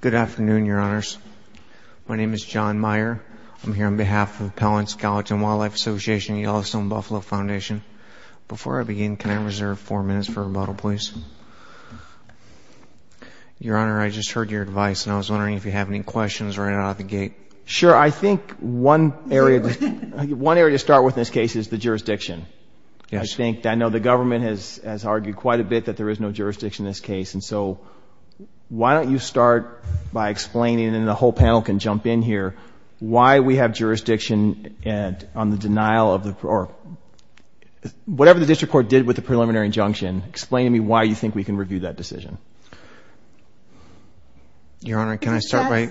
Good afternoon, your honors. My name is John Meyer. I'm here on behalf of the Pellin Skeleton Wildlife Association and Yellowstone Buffalo Foundation. Before I begin, can I reserve four minutes for rebuttal, please? Your honor, I just heard your advice and I was wondering if you have any questions right out of the gate. Sure, I think one area to start with in this case is the jurisdiction. I know the government has argued quite a bit that there is no jurisdiction in this case, and so why don't you start by explaining, and the whole panel can jump in here, why we have jurisdiction and on the denial of the, or whatever the district court did with the preliminary injunction, explain to me why you think we can review that decision. Your honor, can I start by...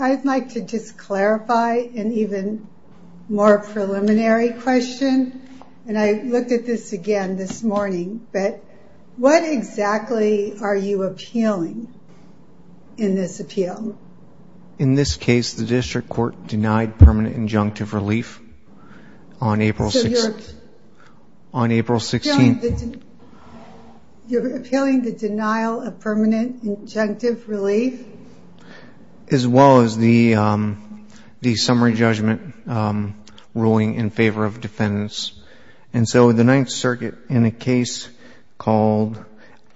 I'd like to just clarify an even more preliminary question, and I what exactly are you appealing in this appeal? In this case, the district court denied permanent injunctive relief on April 16th. You're appealing the denial of permanent injunctive relief? As well as the summary judgment ruling in a case called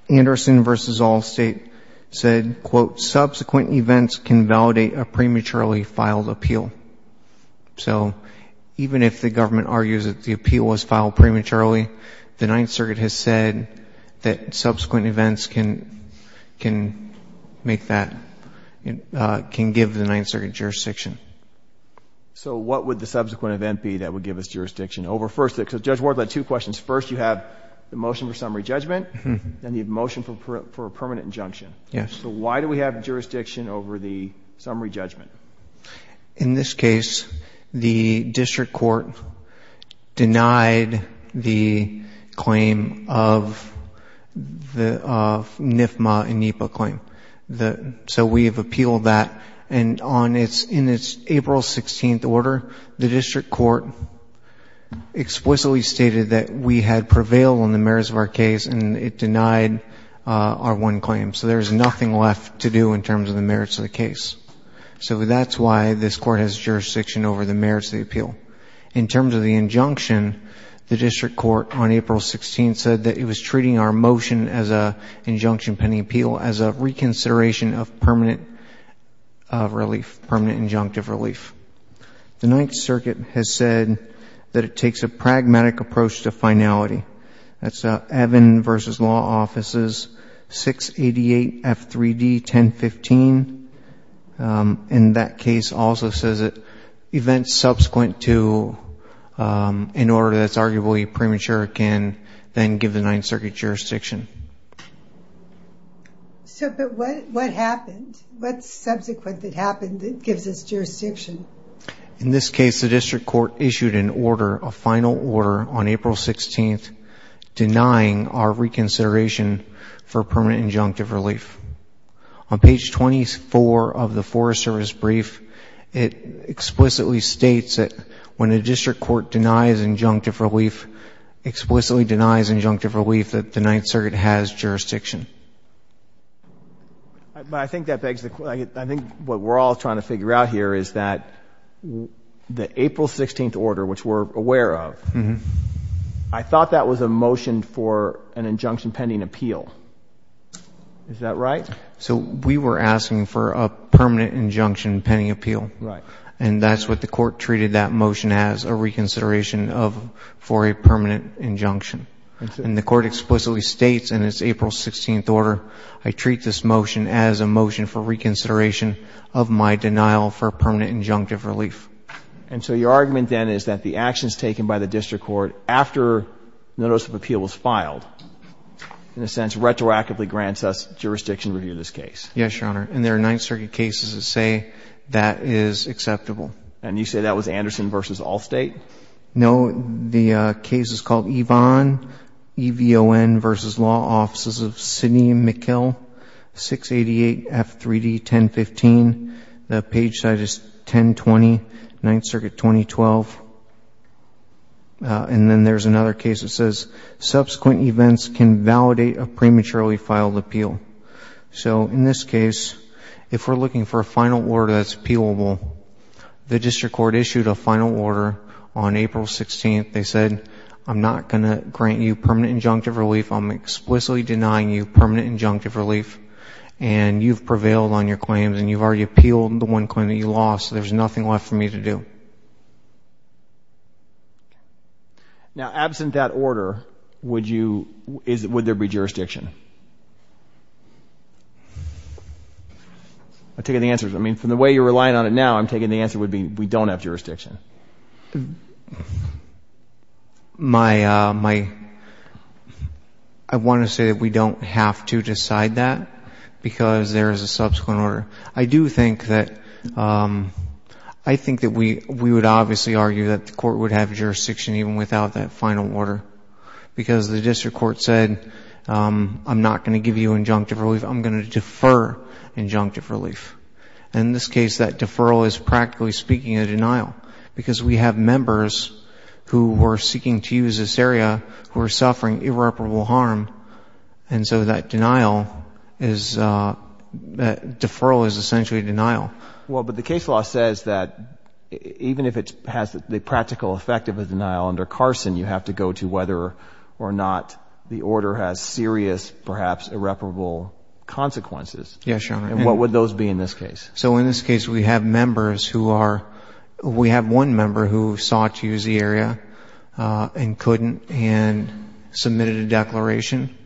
Anderson v. Allstate said, quote, subsequent events can validate a prematurely filed appeal. So even if the government argues that the appeal was filed prematurely, the Ninth Circuit has said that subsequent events can make that, can give the Ninth Circuit jurisdiction. So what would the subsequent event be that would give us jurisdiction? Over first, Judge the motion for summary judgment, then the motion for a permanent injunction. Yes. So why do we have jurisdiction over the summary judgment? In this case, the district court denied the claim of the NIFMA and NEPA claim. So we have appealed that, and on its, in its April 16th order, the district court explicitly stated that we had prevailed on the merits of our case, and it denied our one claim. So there's nothing left to do in terms of the merits of the case. So that's why this court has jurisdiction over the merits of the appeal. In terms of the injunction, the district court on April 16th said that it was treating our motion as a injunction pending appeal as a reconsideration of permanent relief, permanent injunctive relief. The Ninth Circuit has said that it takes a pragmatic approach to finality. That's Evan v. Law Offices 688 F3D 1015. In that case also says that events subsequent to an order that's arguably premature can then give the Ninth Circuit jurisdiction. So, but what, what happened? What's subsequent that happened that gives us jurisdiction? In this case, the district court issued an order, a final order, on April 16th denying our reconsideration for permanent injunctive relief. On page 24 of the Forest Service brief, it explicitly states that when a district court denies injunctive relief, explicitly denies injunctive relief, that the Ninth Circuit has jurisdiction. But I think that begs the question, I think what we're all trying to figure out here is that the April 16th order, which we're aware of, I thought that was a motion for an injunction pending appeal. Is that right? So we were asking for a permanent injunction pending appeal. Right. And that's what the court treated that motion as, a reconsideration of, for a permanent injunction. And the court explicitly states in its April 16th order, I treat this motion as a motion for reconsideration of my denial for permanent injunctive relief. And so your argument then is that the actions taken by the district court after notice of appeal was filed, in a sense, retroactively grants us jurisdiction to review this case. Yes, Your Honor. And there are Ninth Circuit cases that say that is acceptable. And you say that was Anderson v. Allstate? No. The case is called Evon, E-V-O-N v. Law Offices of Sidney and Green. The page size is 1020, Ninth Circuit 2012. And then there's another case that says subsequent events can validate a prematurely filed appeal. So in this case, if we're looking for a final order that's appealable, the district court issued a final order on April 16th. They said, I'm not going to grant you permanent injunctive relief. I'm explicitly denying you permanent injunctive relief. And you've prevailed on your claims and you've already appealed the one claim that you lost. So there's nothing left for me to do. Now, absent that order, would you, would there be jurisdiction? I'm taking the answers. I mean, from the way you're relying on it now, I'm taking the answer would be we don't have jurisdiction. My, I want to say that we don't have to decide that because there is a subsequent order. I do think that, I think that we would obviously argue that the court would have jurisdiction even without that final order because the district court said, I'm not going to give you injunctive relief. I'm going to defer injunctive relief. And in this case, that deferral is practically speaking a denial because we have members who are seeking to use this area who are suffering irreparable harm. And so that denial is a deferral is essentially denial. Well, but the case law says that even if it has the practical effect of a denial under Carson, you have to go to whether or not the order has serious, perhaps irreparable consequences. And what would those be in this case? So in this case, we have members who are, we have one member who sought to use the area and couldn't and submitted a declaration.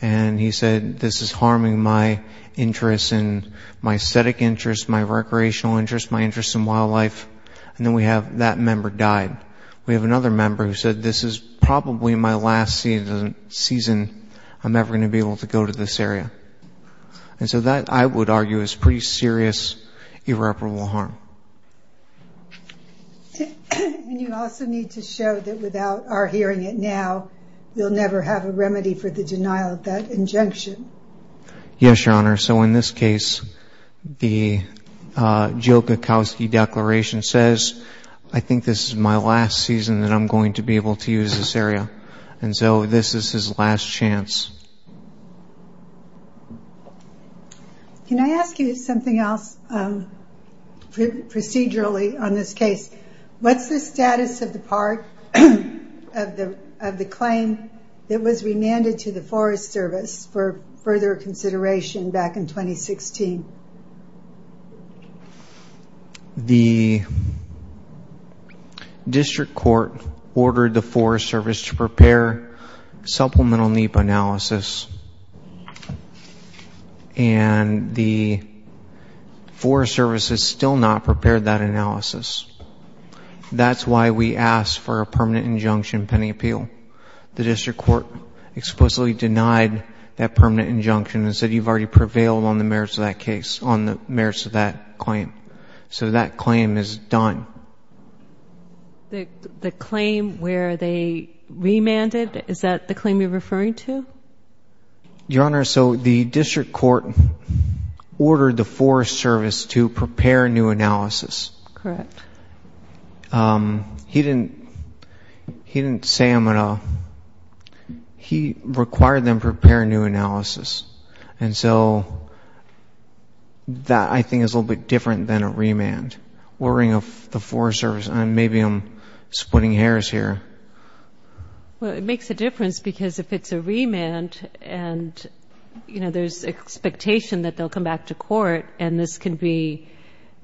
And he said, this is harming my interest in my aesthetic interest, my recreational interest, my interest in wildlife. And then we have that member died. We have another member who said, this is probably my last season I'm ever going to be able to go to this area. And so that I would argue is pretty serious, irreparable harm. And you also need to show that without our hearing it now, you'll never have a remedy for the denial of that injunction. Yes, Your Honor. So in this case, the Joe Kowalski declaration says, I think this is my last season that I'm going to be able to use this area. And so this is his last chance. Can I ask you something else, procedurally, on this case? What's the status of the claim that was remanded to the Forest Service for further consideration back in 2016? The District Court ordered the Forest Service to prepare supplemental NEPA analysis. And the Forest Service has still not prepared that analysis. That's why we asked for a permanent injunction pending appeal. The District Court explicitly denied that permanent injunction and said you've already prevailed on the merits of that claim. So that claim is done. The claim where they remanded, is that the claim you're referring to? Your Honor, so the District Court ordered the Forest Service to prepare new analysis. Correct. He didn't say him at all. He required them to prepare new analysis. And so that, I think, is a little bit different than a remand. Ordering the Forest Service, maybe I'm splitting hairs here. Well, it makes a difference because if it's a remand and, you know, there's expectation that they'll come back to court and this can be,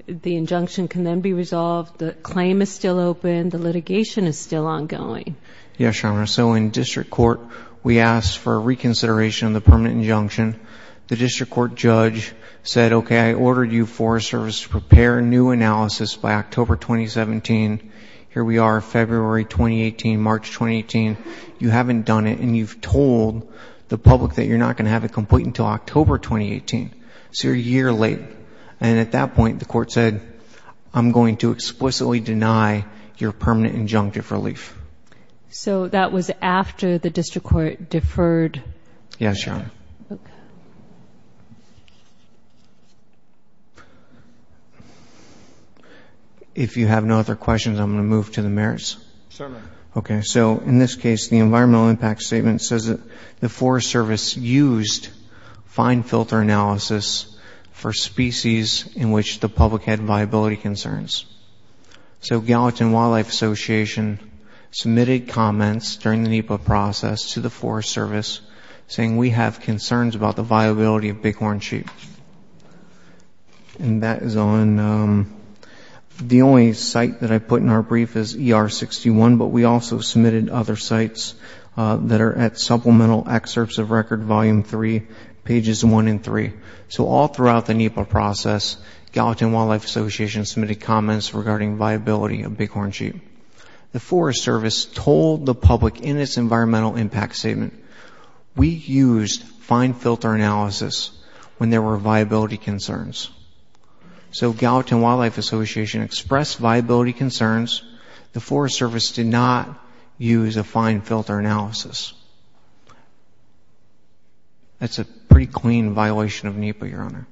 the injunction can then be resolved. The claim is still open. The litigation is still ongoing. Yes, Your Honor. So in District Court, we asked for a reconsideration of the permanent injunction. The District Court judge said, okay, I ordered you, Forest Service, to prepare new analysis by October 2017. Here we are, February 2018, March 2018. You haven't done it and you've told the public that you're not going to have it complete until October 2018. So you're a year late. And at that point, the court said, I'm going to explicitly deny your permanent injunctive relief. So that was after the District Court deferred? Yes, Your Honor. If you have no other questions, I'm going to move to the merits. Certainly. Okay. So in this case, the environmental impact statement says that the Forest Service used fine filter analysis for species in which the public had viability concerns. So Gallatin Wildlife Association submitted comments during the NEPA process to the Forest Service saying, we have concerns about the viability of bighorn sheep. And that is on, the only site that I put in our brief is ER 61, but we also submitted other sites that are at Supplemental Excerpts of Record Volume 3, pages 1 and 3. So all throughout the NEPA process, Gallatin Wildlife Association submitted comments regarding viability of bighorn sheep. The Forest Service told the public in its environmental impact statement, we used fine filter analysis when there were viability concerns. So Gallatin Wildlife Association expressed viability concerns. The Forest Service did not use a fine filter analysis. That's a pretty clean violation of NEPA, Your Honor.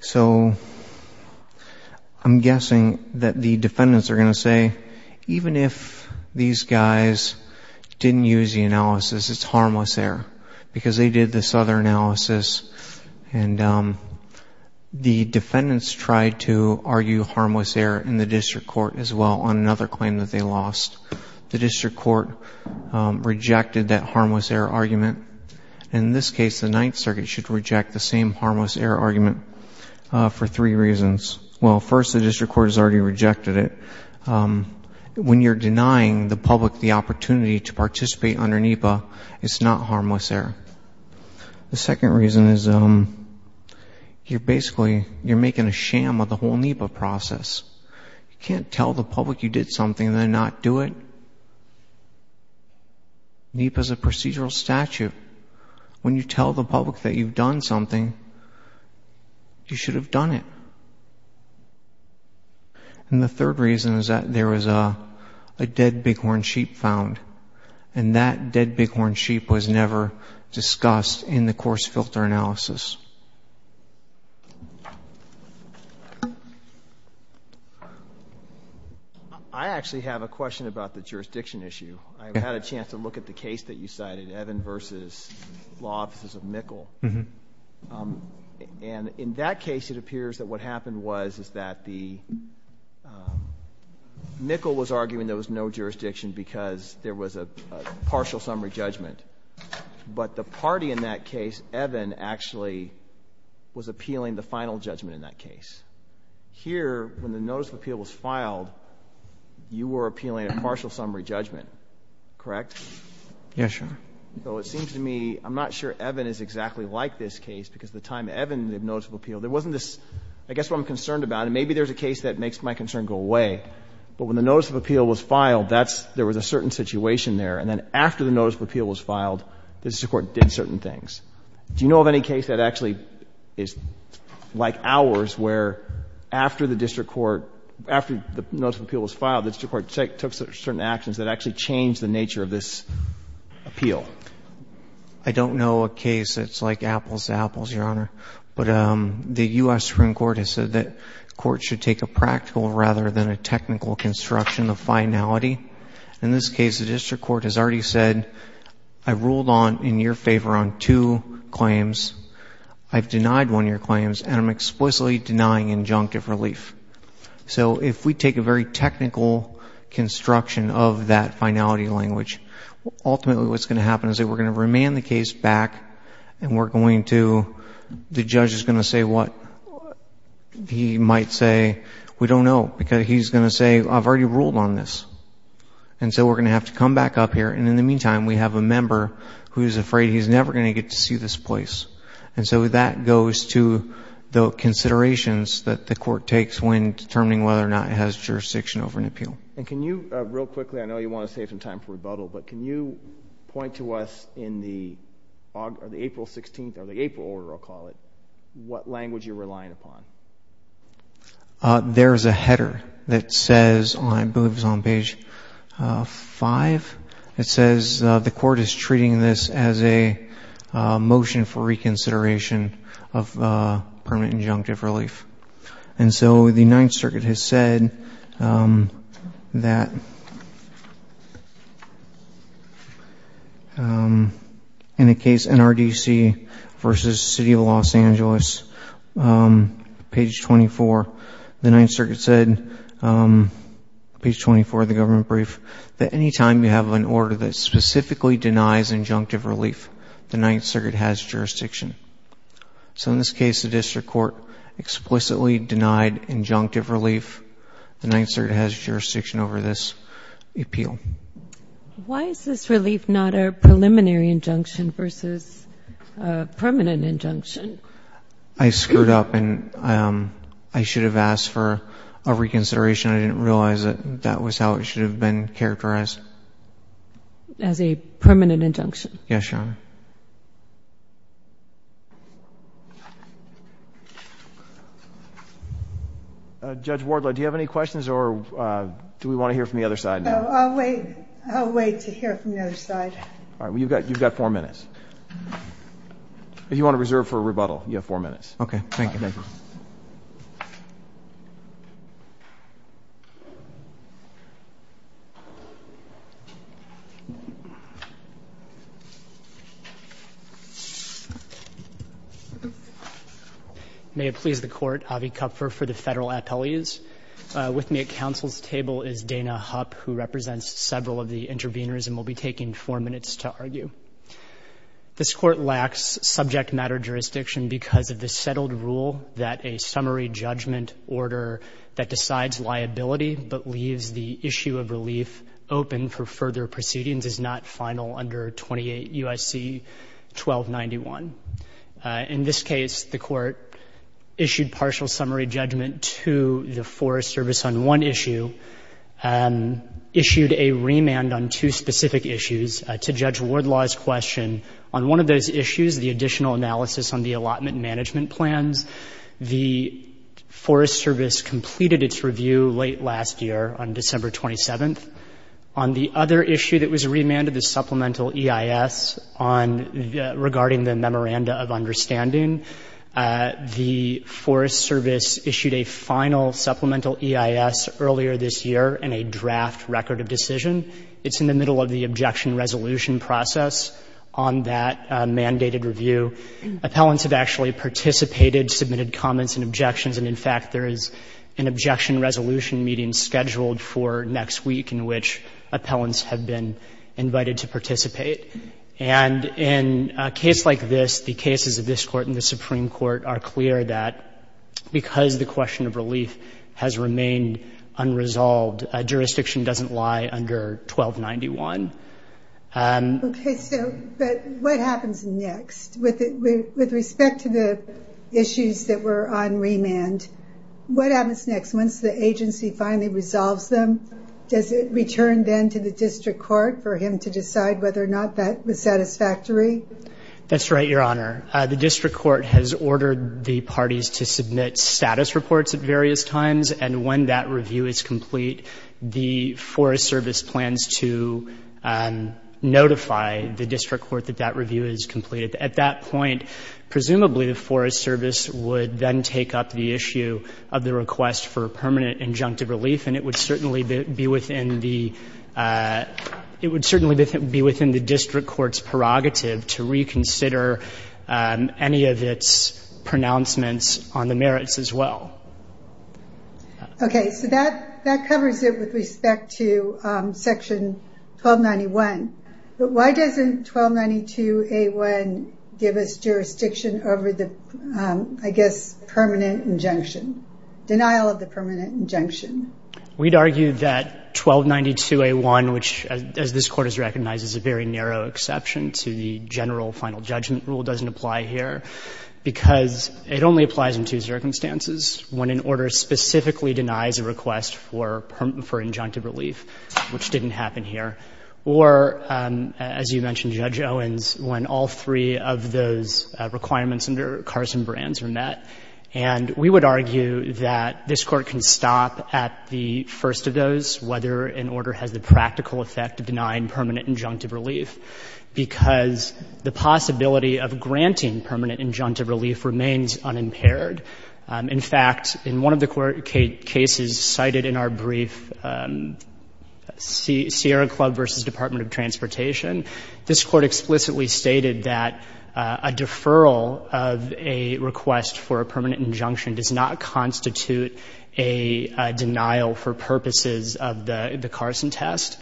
So I'm guessing that the defendants are going to say, even if these guys didn't use the analysis, it's harmless error because they did this other analysis and the defendants tried to argue harmless error in the district court as well on another claim that they lost. The district court rejected that harmless error argument. And in this case, the Ninth Circuit should reject the same harmless error argument for three reasons. Well, first, the district court has already rejected it. When you're denying the public the opportunity to participate under NEPA, it's not harmless error. The second reason is, you're basically, you're making a sham of whole NEPA process. You can't tell the public you did something and then not do it. NEPA is a procedural statute. When you tell the public that you've done something, you should have done it. And the third reason is that there was a dead bighorn sheep found, and that dead bighorn sheep was never discussed in the coarse filter analysis. I actually have a question about the jurisdiction issue. I had a chance to look at the case that you cited, Evan versus Law Offices of Mikkel. And in that case, it appears that what happened was is that the Mikkel was arguing there was no jurisdiction because there was a partial summary judgment. But the party in that case, Evan, actually was appealing the final judgment in that case. Here, when the notice of appeal was filed, you were appealing a partial summary judgment, correct? Yeah, sure. So it seems to me, I'm not sure Evan is exactly like this case, because the time Evan, the notice of appeal, there wasn't this, I guess what I'm concerned about, and maybe there's a case that makes my concern go away, but when the notice of appeal was filed, there was a certain situation there. And then after the notice of appeal was filed, the district court did certain things. Do you know of any case that actually is like ours, where after the district court, after the notice of appeal was filed, the district court took certain actions that actually changed the nature of this appeal? I don't know a case that's like apples to apples, Your Honor. But the U.S. Supreme Court has said that courts should take a practical rather than a technical construction of finality. In this case, the district court has already said, I ruled on, in your favor, on two claims. I've denied one of your claims, and I'm explicitly denying injunctive relief. So if we take a very technical construction of that finality language, ultimately what's going to happen is that we're going to remand the case back, and we're going to, the judge is going to say what? He might say, we don't know, because he's going to say, I've already ruled on this. And so we're going to have to come back up here. And in the meantime, we have a member who's afraid he's never going to get to see this place. And so that goes to the considerations that the court takes when determining whether or not it has jurisdiction over an appeal. And can you, real quickly, I know you want to save some time for rebuttal, but can you point to us in the April 16th, or the April order, I'll call it, what language you're relying upon? There's a header that says, I believe it's on page five, it says the court is treating this as a motion for reconsideration of permanent injunctive relief. And so the Ninth Circuit has on page 24, the Ninth Circuit said, page 24 of the government brief, that anytime you have an order that specifically denies injunctive relief, the Ninth Circuit has jurisdiction. So in this case, the district court explicitly denied injunctive relief. The Ninth Circuit has jurisdiction over this appeal. Why is this relief not a preliminary injunction versus a permanent injunction? I screwed up and I should have asked for a reconsideration. I didn't realize that that was how it should have been characterized. As a permanent injunction. Yes, Your Honor. Judge Wardlow, do you have any questions or do we want to hear from the other side now? I'll wait. I'll wait to hear from the other side. All right. Well, you've got four minutes. If you want to reserve for a rebuttal, you have four minutes. Okay. Thank you. May it please the court, Avi Kupfer for the federal appellees. With me at counsel's table is Dana Hupp, who represents several of the intervenors and will be taking four minutes to argue. This court lacks subject matter jurisdiction because of the settled rule that a summary judgment order that decides liability but leaves the issue of relief open for further proceedings is not final under 28 U.S.C. 1291. In this case, the court issued partial summary judgment to the Forest Service on one issue, issued a remand on two specific issues to Judge Wardlow's question. On one of those issues, the additional analysis on the allotment management plans, the Forest Service completed its review late last year on December 27th. On the other issue that was remanded, the supplemental EIS regarding the memoranda of understanding, the Forest Service issued a final supplemental EIS earlier this year in a draft record of decision. It's in the middle of the objection resolution process on that mandated review. Appellants have actually participated, submitted comments and objections, and in fact, there is an objection resolution meeting scheduled for next week in which appellants have been invited to participate. And in a case like this, the cases of this court and the Supreme Court are clear that because the question of relief has remained unresolved, jurisdiction doesn't lie under 1291. Okay, so what happens next? With respect to the issues that were on remand, what happens next? Once the agency finally resolves them, does it return then to the district court for him to decide whether or not that was satisfactory? That's right, Your Honor. The district court has ordered the parties to submit status reports at various times, and when that review is complete, the Forest Service plans to notify the district court that that review is completed. At that point, presumably, the Forest Service would then take up the issue of the request for permanent injunctive relief, and it would certainly be within the district court's prerogative to reconsider any of its pronouncements on the merits as well. Okay, so that covers it with respect to Section 1291, but why doesn't 1292A1 give us jurisdiction over the, I guess, permanent injunction, denial of the permanent injunction? We'd argue that 1292A1, which as this court has recognized, is a very narrow exception to the general final judgment rule, doesn't apply here, because it only applies in two circumstances. One, an order specifically denies a request for injunctive relief, which didn't happen here. Or, as you mentioned, Judge Owens, when all three of those requirements under Carson-Brands are met. And we would argue that this Court can stop at the first of those, whether an order has the practical effect of denying permanent injunctive relief, because the possibility of granting permanent injunctive relief remains unimpaired. In fact, in one of the cases cited in our brief, Sierra Club v. Department of Transportation, this Court explicitly stated that a deferral of a request for a permanent injunction does not constitute a denial for purposes of the Carson test.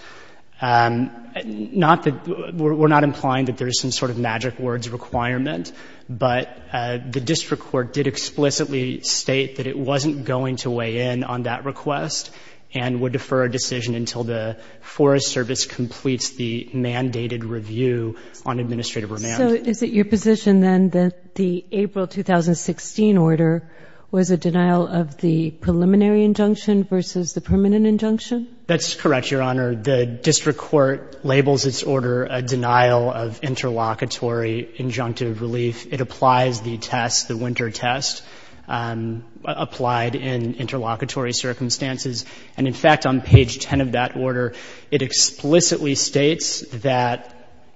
Not that, we're not implying that there's some sort of magic words requirement, but the district court did explicitly state that it wasn't going to weigh in on that request and would defer a decision until the Forest Service completes the mandated review on administrative remand. So is it your position, then, that the April 2016 order was a denial of the preliminary injunction versus the permanent injunction? That's correct, Your Honor. The district court labels its order a denial of interlocutory injunctive relief. It applies the test, the winter test, applied in interlocutory circumstances. And, in fact, on page 10 of that order, it explicitly states that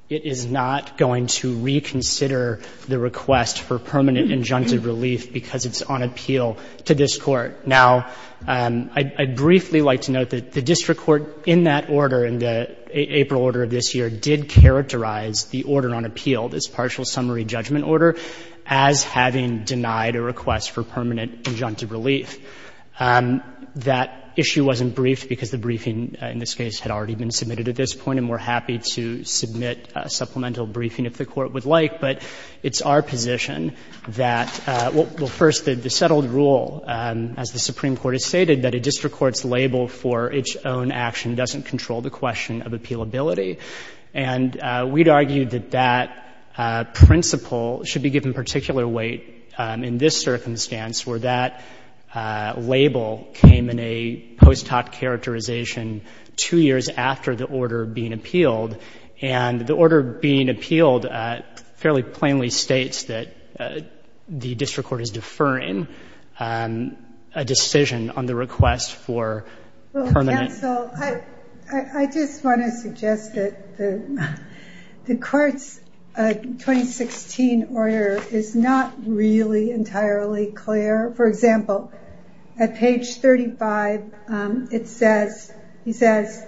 it is not going to reconsider the request for permanent injunctive relief because it's on appeal to this Court. Now, I'd briefly like to note that the district court in that order, in the April order of this year, did characterize the order on appeal, this partial summary judgment order, as having denied a request for permanent injunctive relief. That issue wasn't briefed because the briefing in this case had already been submitted at this point, and we're happy to submit a supplemental briefing if the Court would like. But it's our position that, well, first, the settled rule, as the Supreme Court has stated, that a district court's label for its own action doesn't control the question of appealability. And we'd argue that that principle should be given particular weight in this circumstance, where that label came in a post-hoc characterization two years after the order being appealed. And the order being appealed fairly plainly states that the district court is deferring a decision on the request for permanent ---- Well, counsel, I just want to suggest that the Court's 2016 order is not really entirely clear. For example, at page 35, it says, it's,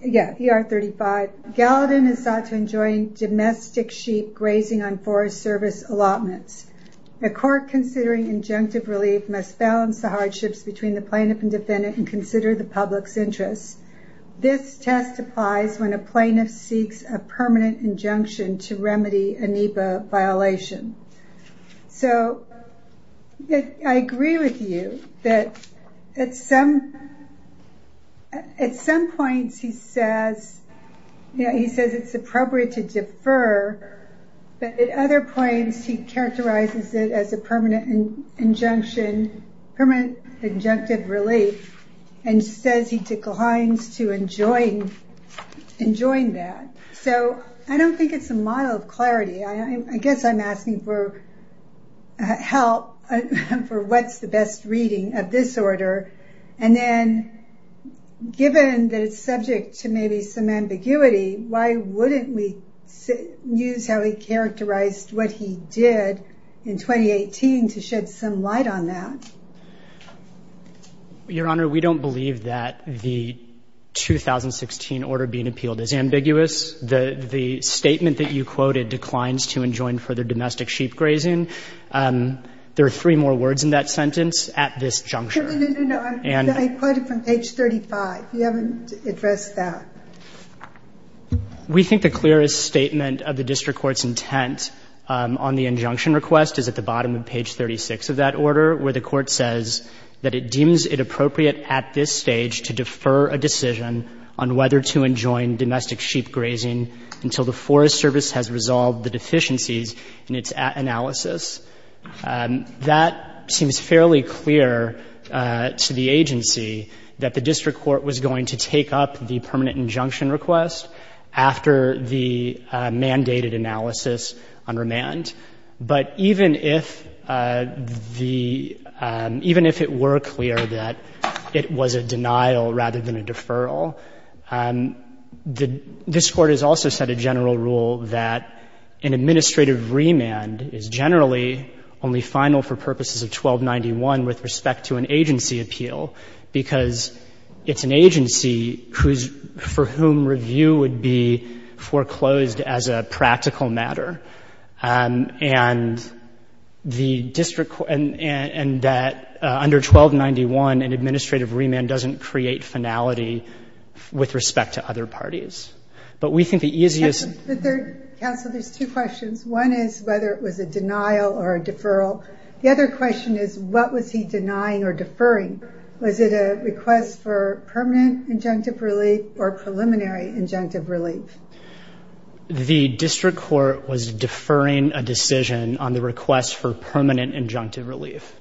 yeah, PR 35, Gallatin is sought to enjoin domestic sheep grazing on Forest Service allotments. The Court, considering injunctive relief, must balance the hardships between the plaintiff and defendant and consider the public's interests. This test applies when a plaintiff seeks a permanent injunction to remedy a NEPA violation. So I agree with you that at some points he says it's appropriate to defer, but at other points he characterizes it as a permanent injunction, permanent injunctive relief, and says he declines to enjoin that. So I don't think it's a model of clarity. I guess I'm asking for help for what's the best reading of this order. And then given that it's subject to maybe some ambiguity, why wouldn't we use how he characterized what he did in 2018 to shed some light on that? Your Honor, we don't believe that the 2016 order being appealed is ambiguous. The statement that you quoted declines to enjoin further domestic sheep grazing. There are three more words in that sentence, at this juncture. No, no, no, no. I quoted from page 35. You haven't addressed that. We think the clearest statement of the district court's intent on the injunction request is at the bottom of page 36 of that order, where the Court says that it deems it appropriate at this stage to defer a decision on whether to enjoin domestic sheep grazing until the Forest Service has resolved the deficiencies in its analysis. That seems fairly clear to the agency, that the district court was going to take up the permanent injunction request after the mandated analysis on remand. But even if the district court said that, even if it were clear that it was a denial rather than a deferral, this Court has also set a general rule that an administrative remand is generally only final for purposes of 1291 with respect to an agency appeal, because it's an agency whose — for whom review would be foreclosed as a practical matter. And the district court — and that under 1291, an administrative remand doesn't create finality with respect to other parties. But we think the easiest — Counsel, there's two questions. One is whether it was a denial or a deferral. The other question is, what was he denying or deferring? Was it a request for permanent injunctive relief or preliminary injunctive relief? The district court was deferring a decision on the request for permanent injunctive relief.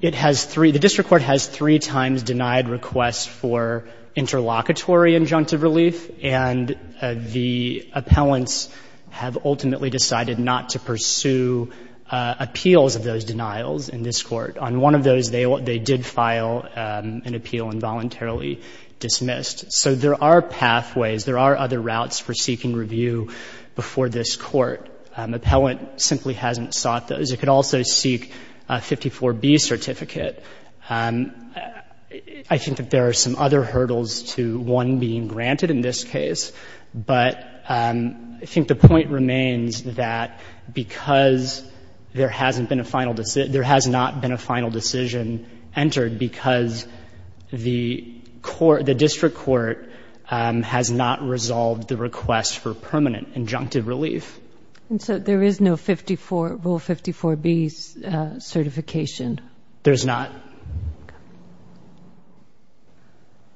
It has three — the district court has three times denied requests for interlocutory injunctive relief, and the appellants have ultimately decided not to pursue appeals of those denials in this Court. On one of those, they did file an appeal and voluntarily dismissed. So there are pathways. There are other routes for seeking review before this Court. Appellant simply hasn't sought those. It could also seek a 54B certificate. I think that there are some other hurdles to one being granted in this case, but I think the point remains that because there hasn't been a final — there has not been a final decision entered because the court — the district court has not resolved the request for permanent injunctive relief. And so there is no 54 — Rule 54B certification? There's not.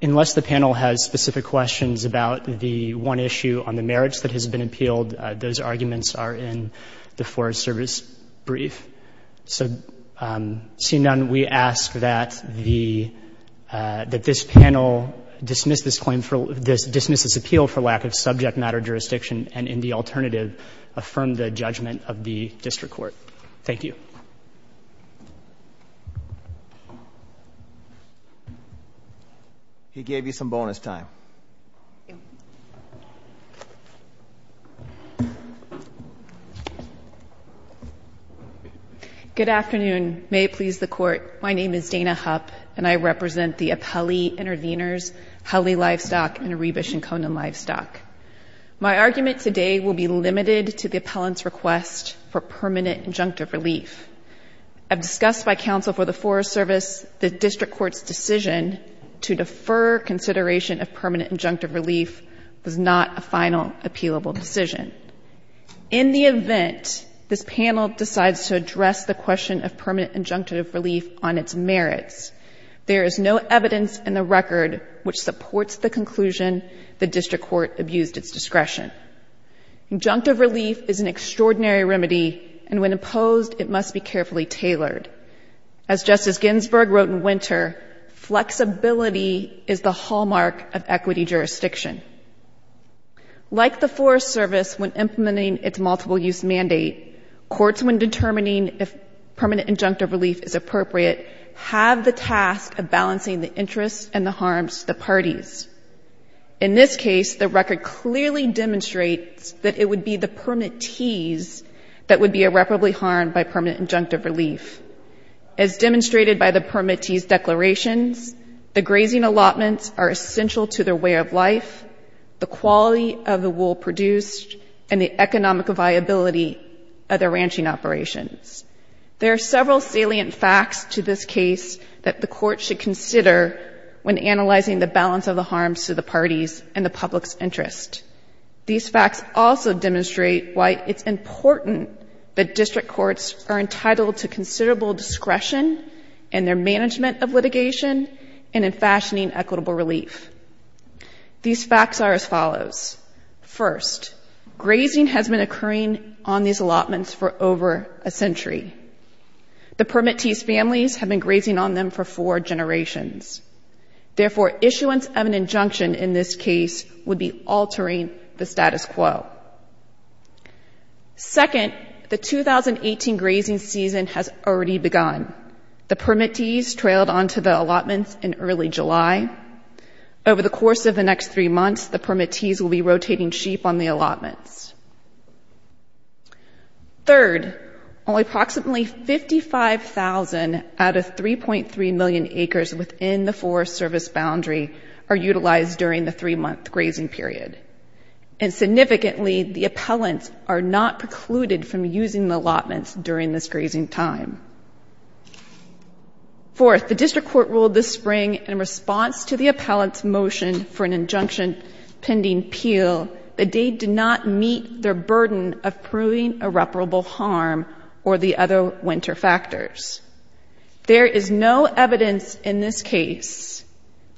Unless the panel has specific questions about the one issue on the marriage that has been appealed, those arguments are in the Forest Service brief. So seeing none, we ask that the — that this panel dismiss this claim for — dismiss this appeal for lack of subject matter jurisdiction and, in the alternative, affirm the judgment of the district court. Thank you. He gave you some bonus time. Good afternoon. May it please the Court. My name is Dana Hupp, and I represent the Appellee Intervenors, Hully Livestock, and Arubish and Conan Livestock. My argument today will be limited to the appellant's request for permanent injunctive relief. As discussed by counsel for the Forest Service, the district court's decision to defer consideration of permanent injunctive relief was not a final appealable decision. In the event this panel decides to address the question of permanent injunctive relief on its merits, there is no evidence in the record which supports the conclusion the district court abused its discretion. Injunctive relief is an extraordinary remedy, and when imposed, it must be carefully tailored. As Justice Ginsburg wrote in Winter, flexibility is the hallmark of equity jurisdiction. Like the Forest Service when implementing its multiple-use mandate, courts, when determining if permanent injunctive relief is appropriate, have the task of balancing the interests and the harms to the parties. In this case, the record clearly demonstrates that it would be the permittees that would be irreparably harmed by permanent injunctive relief. As demonstrated by the permittees' declarations, the grazing allotments are essential to their way of life, the quality of the wool produced, and the economic viability of their ranching operations. There are several salient facts to this case that the court should consider when analyzing the balance of the harms to the parties and the public's interest. These facts also demonstrate why it's important that district courts are entitled to compensation and in fashioning equitable relief. These facts are as follows. First, grazing has been occurring on these allotments for over a century. The permittees' families have been grazing on them for four generations. Therefore, issuance of an injunction in this case would be altering the status quo. Second, the 2018 grazing season has already begun. The permittees trailed on to the allotments in early July. Over the course of the next three months, the permittees will be rotating sheep on the allotments. Third, only approximately 55,000 out of 3.3 million acres within the Forest Service boundary are utilized during the three-month grazing period. And significantly, the appellants are not precluded from using the allotments during this grazing time. Fourth, the district court ruled this spring in response to the appellant's motion for an injunction pending Peel that they did not meet their burden of proving irreparable harm or the other winter factors. There is no evidence in this case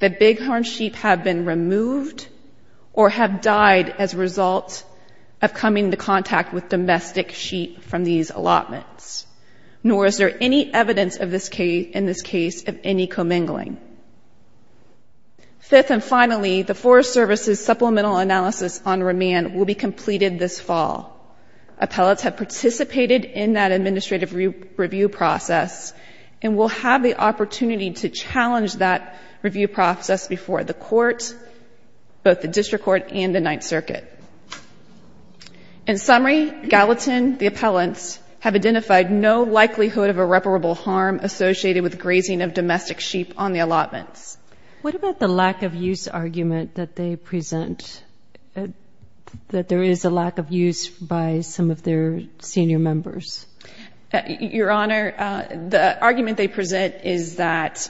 that bighorn sheep have been removed or have died as a result of coming into contact. Nor is there any evidence in this case of any commingling. Fifth and finally, the Forest Service's supplemental analysis on remand will be completed this fall. Appellants have participated in that administrative review process and will have the opportunity to challenge that review process before the court, both the district court and the Ninth Circuit. In summary, Gallatin, the appellants, have identified no likelihood of irreparable harm associated with grazing of domestic sheep on the allotments. What about the lack of use argument that they present, that there is a lack of use by some of their senior members? Your Honor, the argument they present is that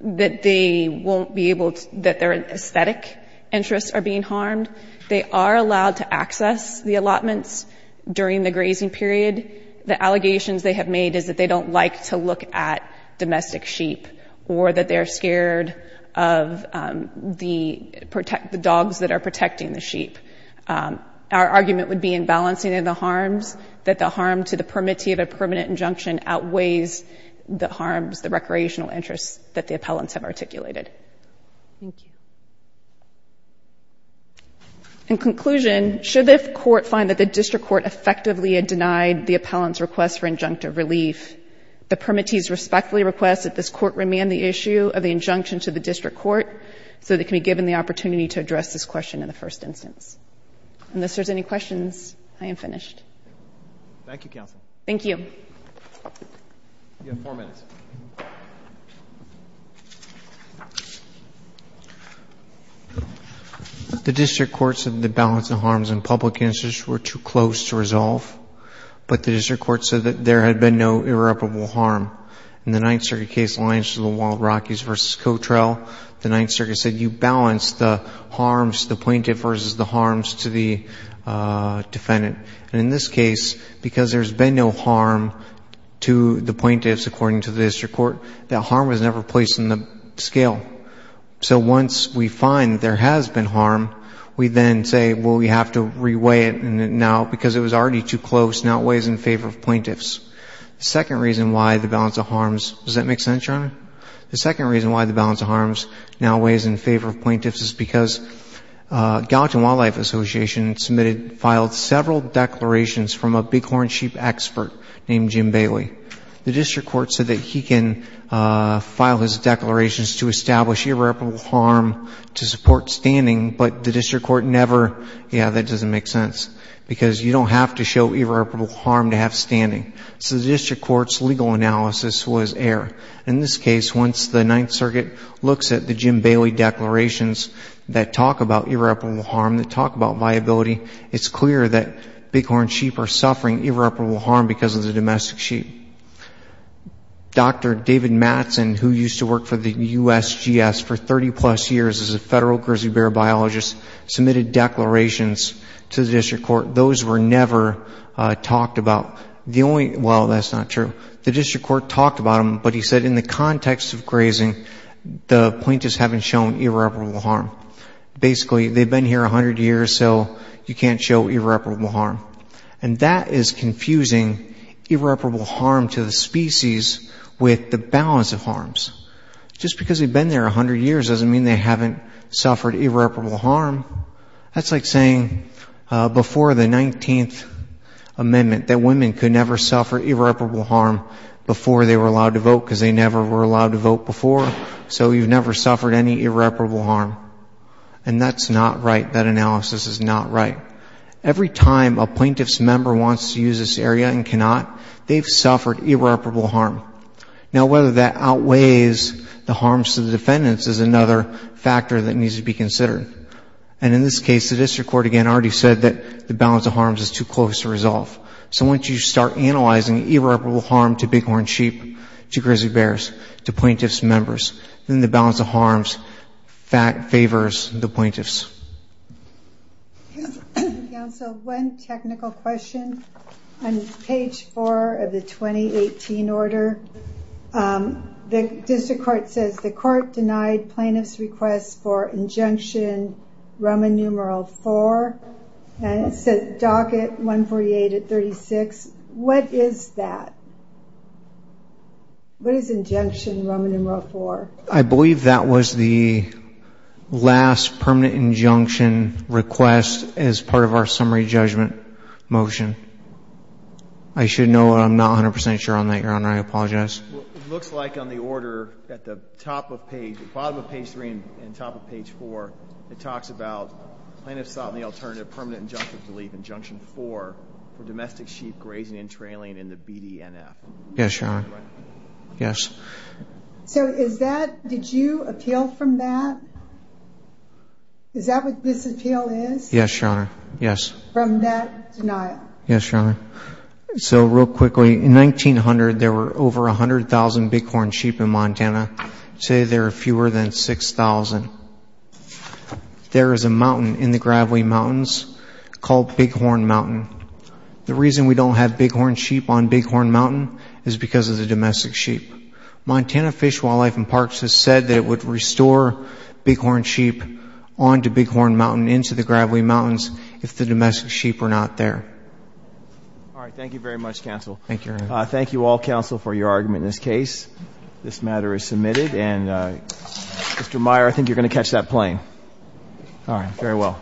they won't be able to, that their allotments are not being used. They are allowed to access the allotments during the grazing period. The allegations they have made is that they don't like to look at domestic sheep or that they are scared of the dogs that are protecting the sheep. Our argument would be in balancing the harms, that the harm to the permittee of a permanent injunction outweighs the harms, the recreational interests that the appellants have articulated. In conclusion, should the court find that the district court effectively denied the appellant's request for injunctive relief, the permittees respectfully request that this court remand the issue of the injunction to the district court so that it can be given the opportunity to address this question in the first instance. Unless there are any questions, I am finished. Thank you, counsel. Thank you. You have four minutes. The district court said the balance of harms in public interest were too close to the harms to the defendant. And in this case, because there has been no harm to the plaintiffs, according to the district court, that harm was never placed in the scale. So once we find that there has been harm, we then say, well, we have to reweigh it now because it was already too close, now it weighs in favor of plaintiffs. The second reason why the balance of harms, does that make sense, Your Honor? The District Court, as the Supreme Court of the Association submitted, filed several declarations from a bighorn sheep expert named Jim Bailey. The district court said that he can file his declarations to establish irreparable harm to support standing, but the district court never, yeah, that doesn't make sense, because you don't have to show irreparable harm to have standing. So the district court's legal analysis was air. In this case, once the Ninth Circuit looks at the Jim Bailey declarations that talk about irreparable harm, that talk about viability, it's clear that bighorn sheep are suffering irreparable harm because of the domestic sheep. Dr. David Mattson, who used to work for the USGS for 30-plus years as a federal grizzly bear biologist, submitted declarations to the district court. Those were never talked about. The only, well, that's not true. The district court talked about them, but he said in the context of grazing, the plaintiffs haven't shown irreparable harm. Basically, they've been here 100 years, so you can't show irreparable harm. And that is confusing irreparable harm to the species with the balance of harms. Just because they've been there 100 years doesn't mean they haven't suffered irreparable harm. That's like saying before the 19th Amendment that women could never suffer irreparable harm before they were allowed to vote because they never were allowed to vote before, so you've never suffered any irreparable harm. And that's not right. That analysis is not right. Every time a plaintiff's member wants to use this area and cannot, they've suffered irreparable harm. Now, whether that outweighs the harms to the defendants is another factor that needs to be considered. And in this case, the district court, again, already said that the balance of harms is too close to resolve. So once you start analyzing irreparable harm to bighorn sheep, to grizzly bears, to plaintiffs' members, then the balance of harms favors the plaintiffs. One technical question. On page 4 of the 2018 order, the district court says the court denied plaintiff's request for injunction Roman numeral 4, and it says docket 148 at 36. What is that? What is injunction Roman numeral 4? I believe that was the last permanent injunction request as part of our summary judgment motion. I should know, but I'm not 100% sure on that, Your Honor. I apologize. It looks like on the order at the top of page, the bottom of page 3 and top of page 4, it talks about plaintiffs sought the alternative permanent injunctive relief injunction 4 for domestic sheep grazing and trailing in the BDNF. Yes, Your Honor. Yes. So is that, did you appeal from that? Is that what this appeal is? Yes, Your Honor. Yes. So real quickly, in 1900, there were over 100,000 bighorn sheep in Montana. Today there are fewer than 6,000. There is a mountain in the Graveline Mountains called Bighorn Mountain. The reason we don't have bighorn sheep on Bighorn Mountain is because of the domestic sheep. Montana Fish, Wildlife, and Parks has said that it would restore bighorn sheep onto Bighorn Mountain into the Graveline Mountains if the domestic sheep were not there. All right. Thank you very much, counsel. Thank you, Your Honor. Thank you all, counsel, for your argument in this case. This matter is submitted. And, Mr. Meyer, I think you're going to catch that plane. All right. Very well.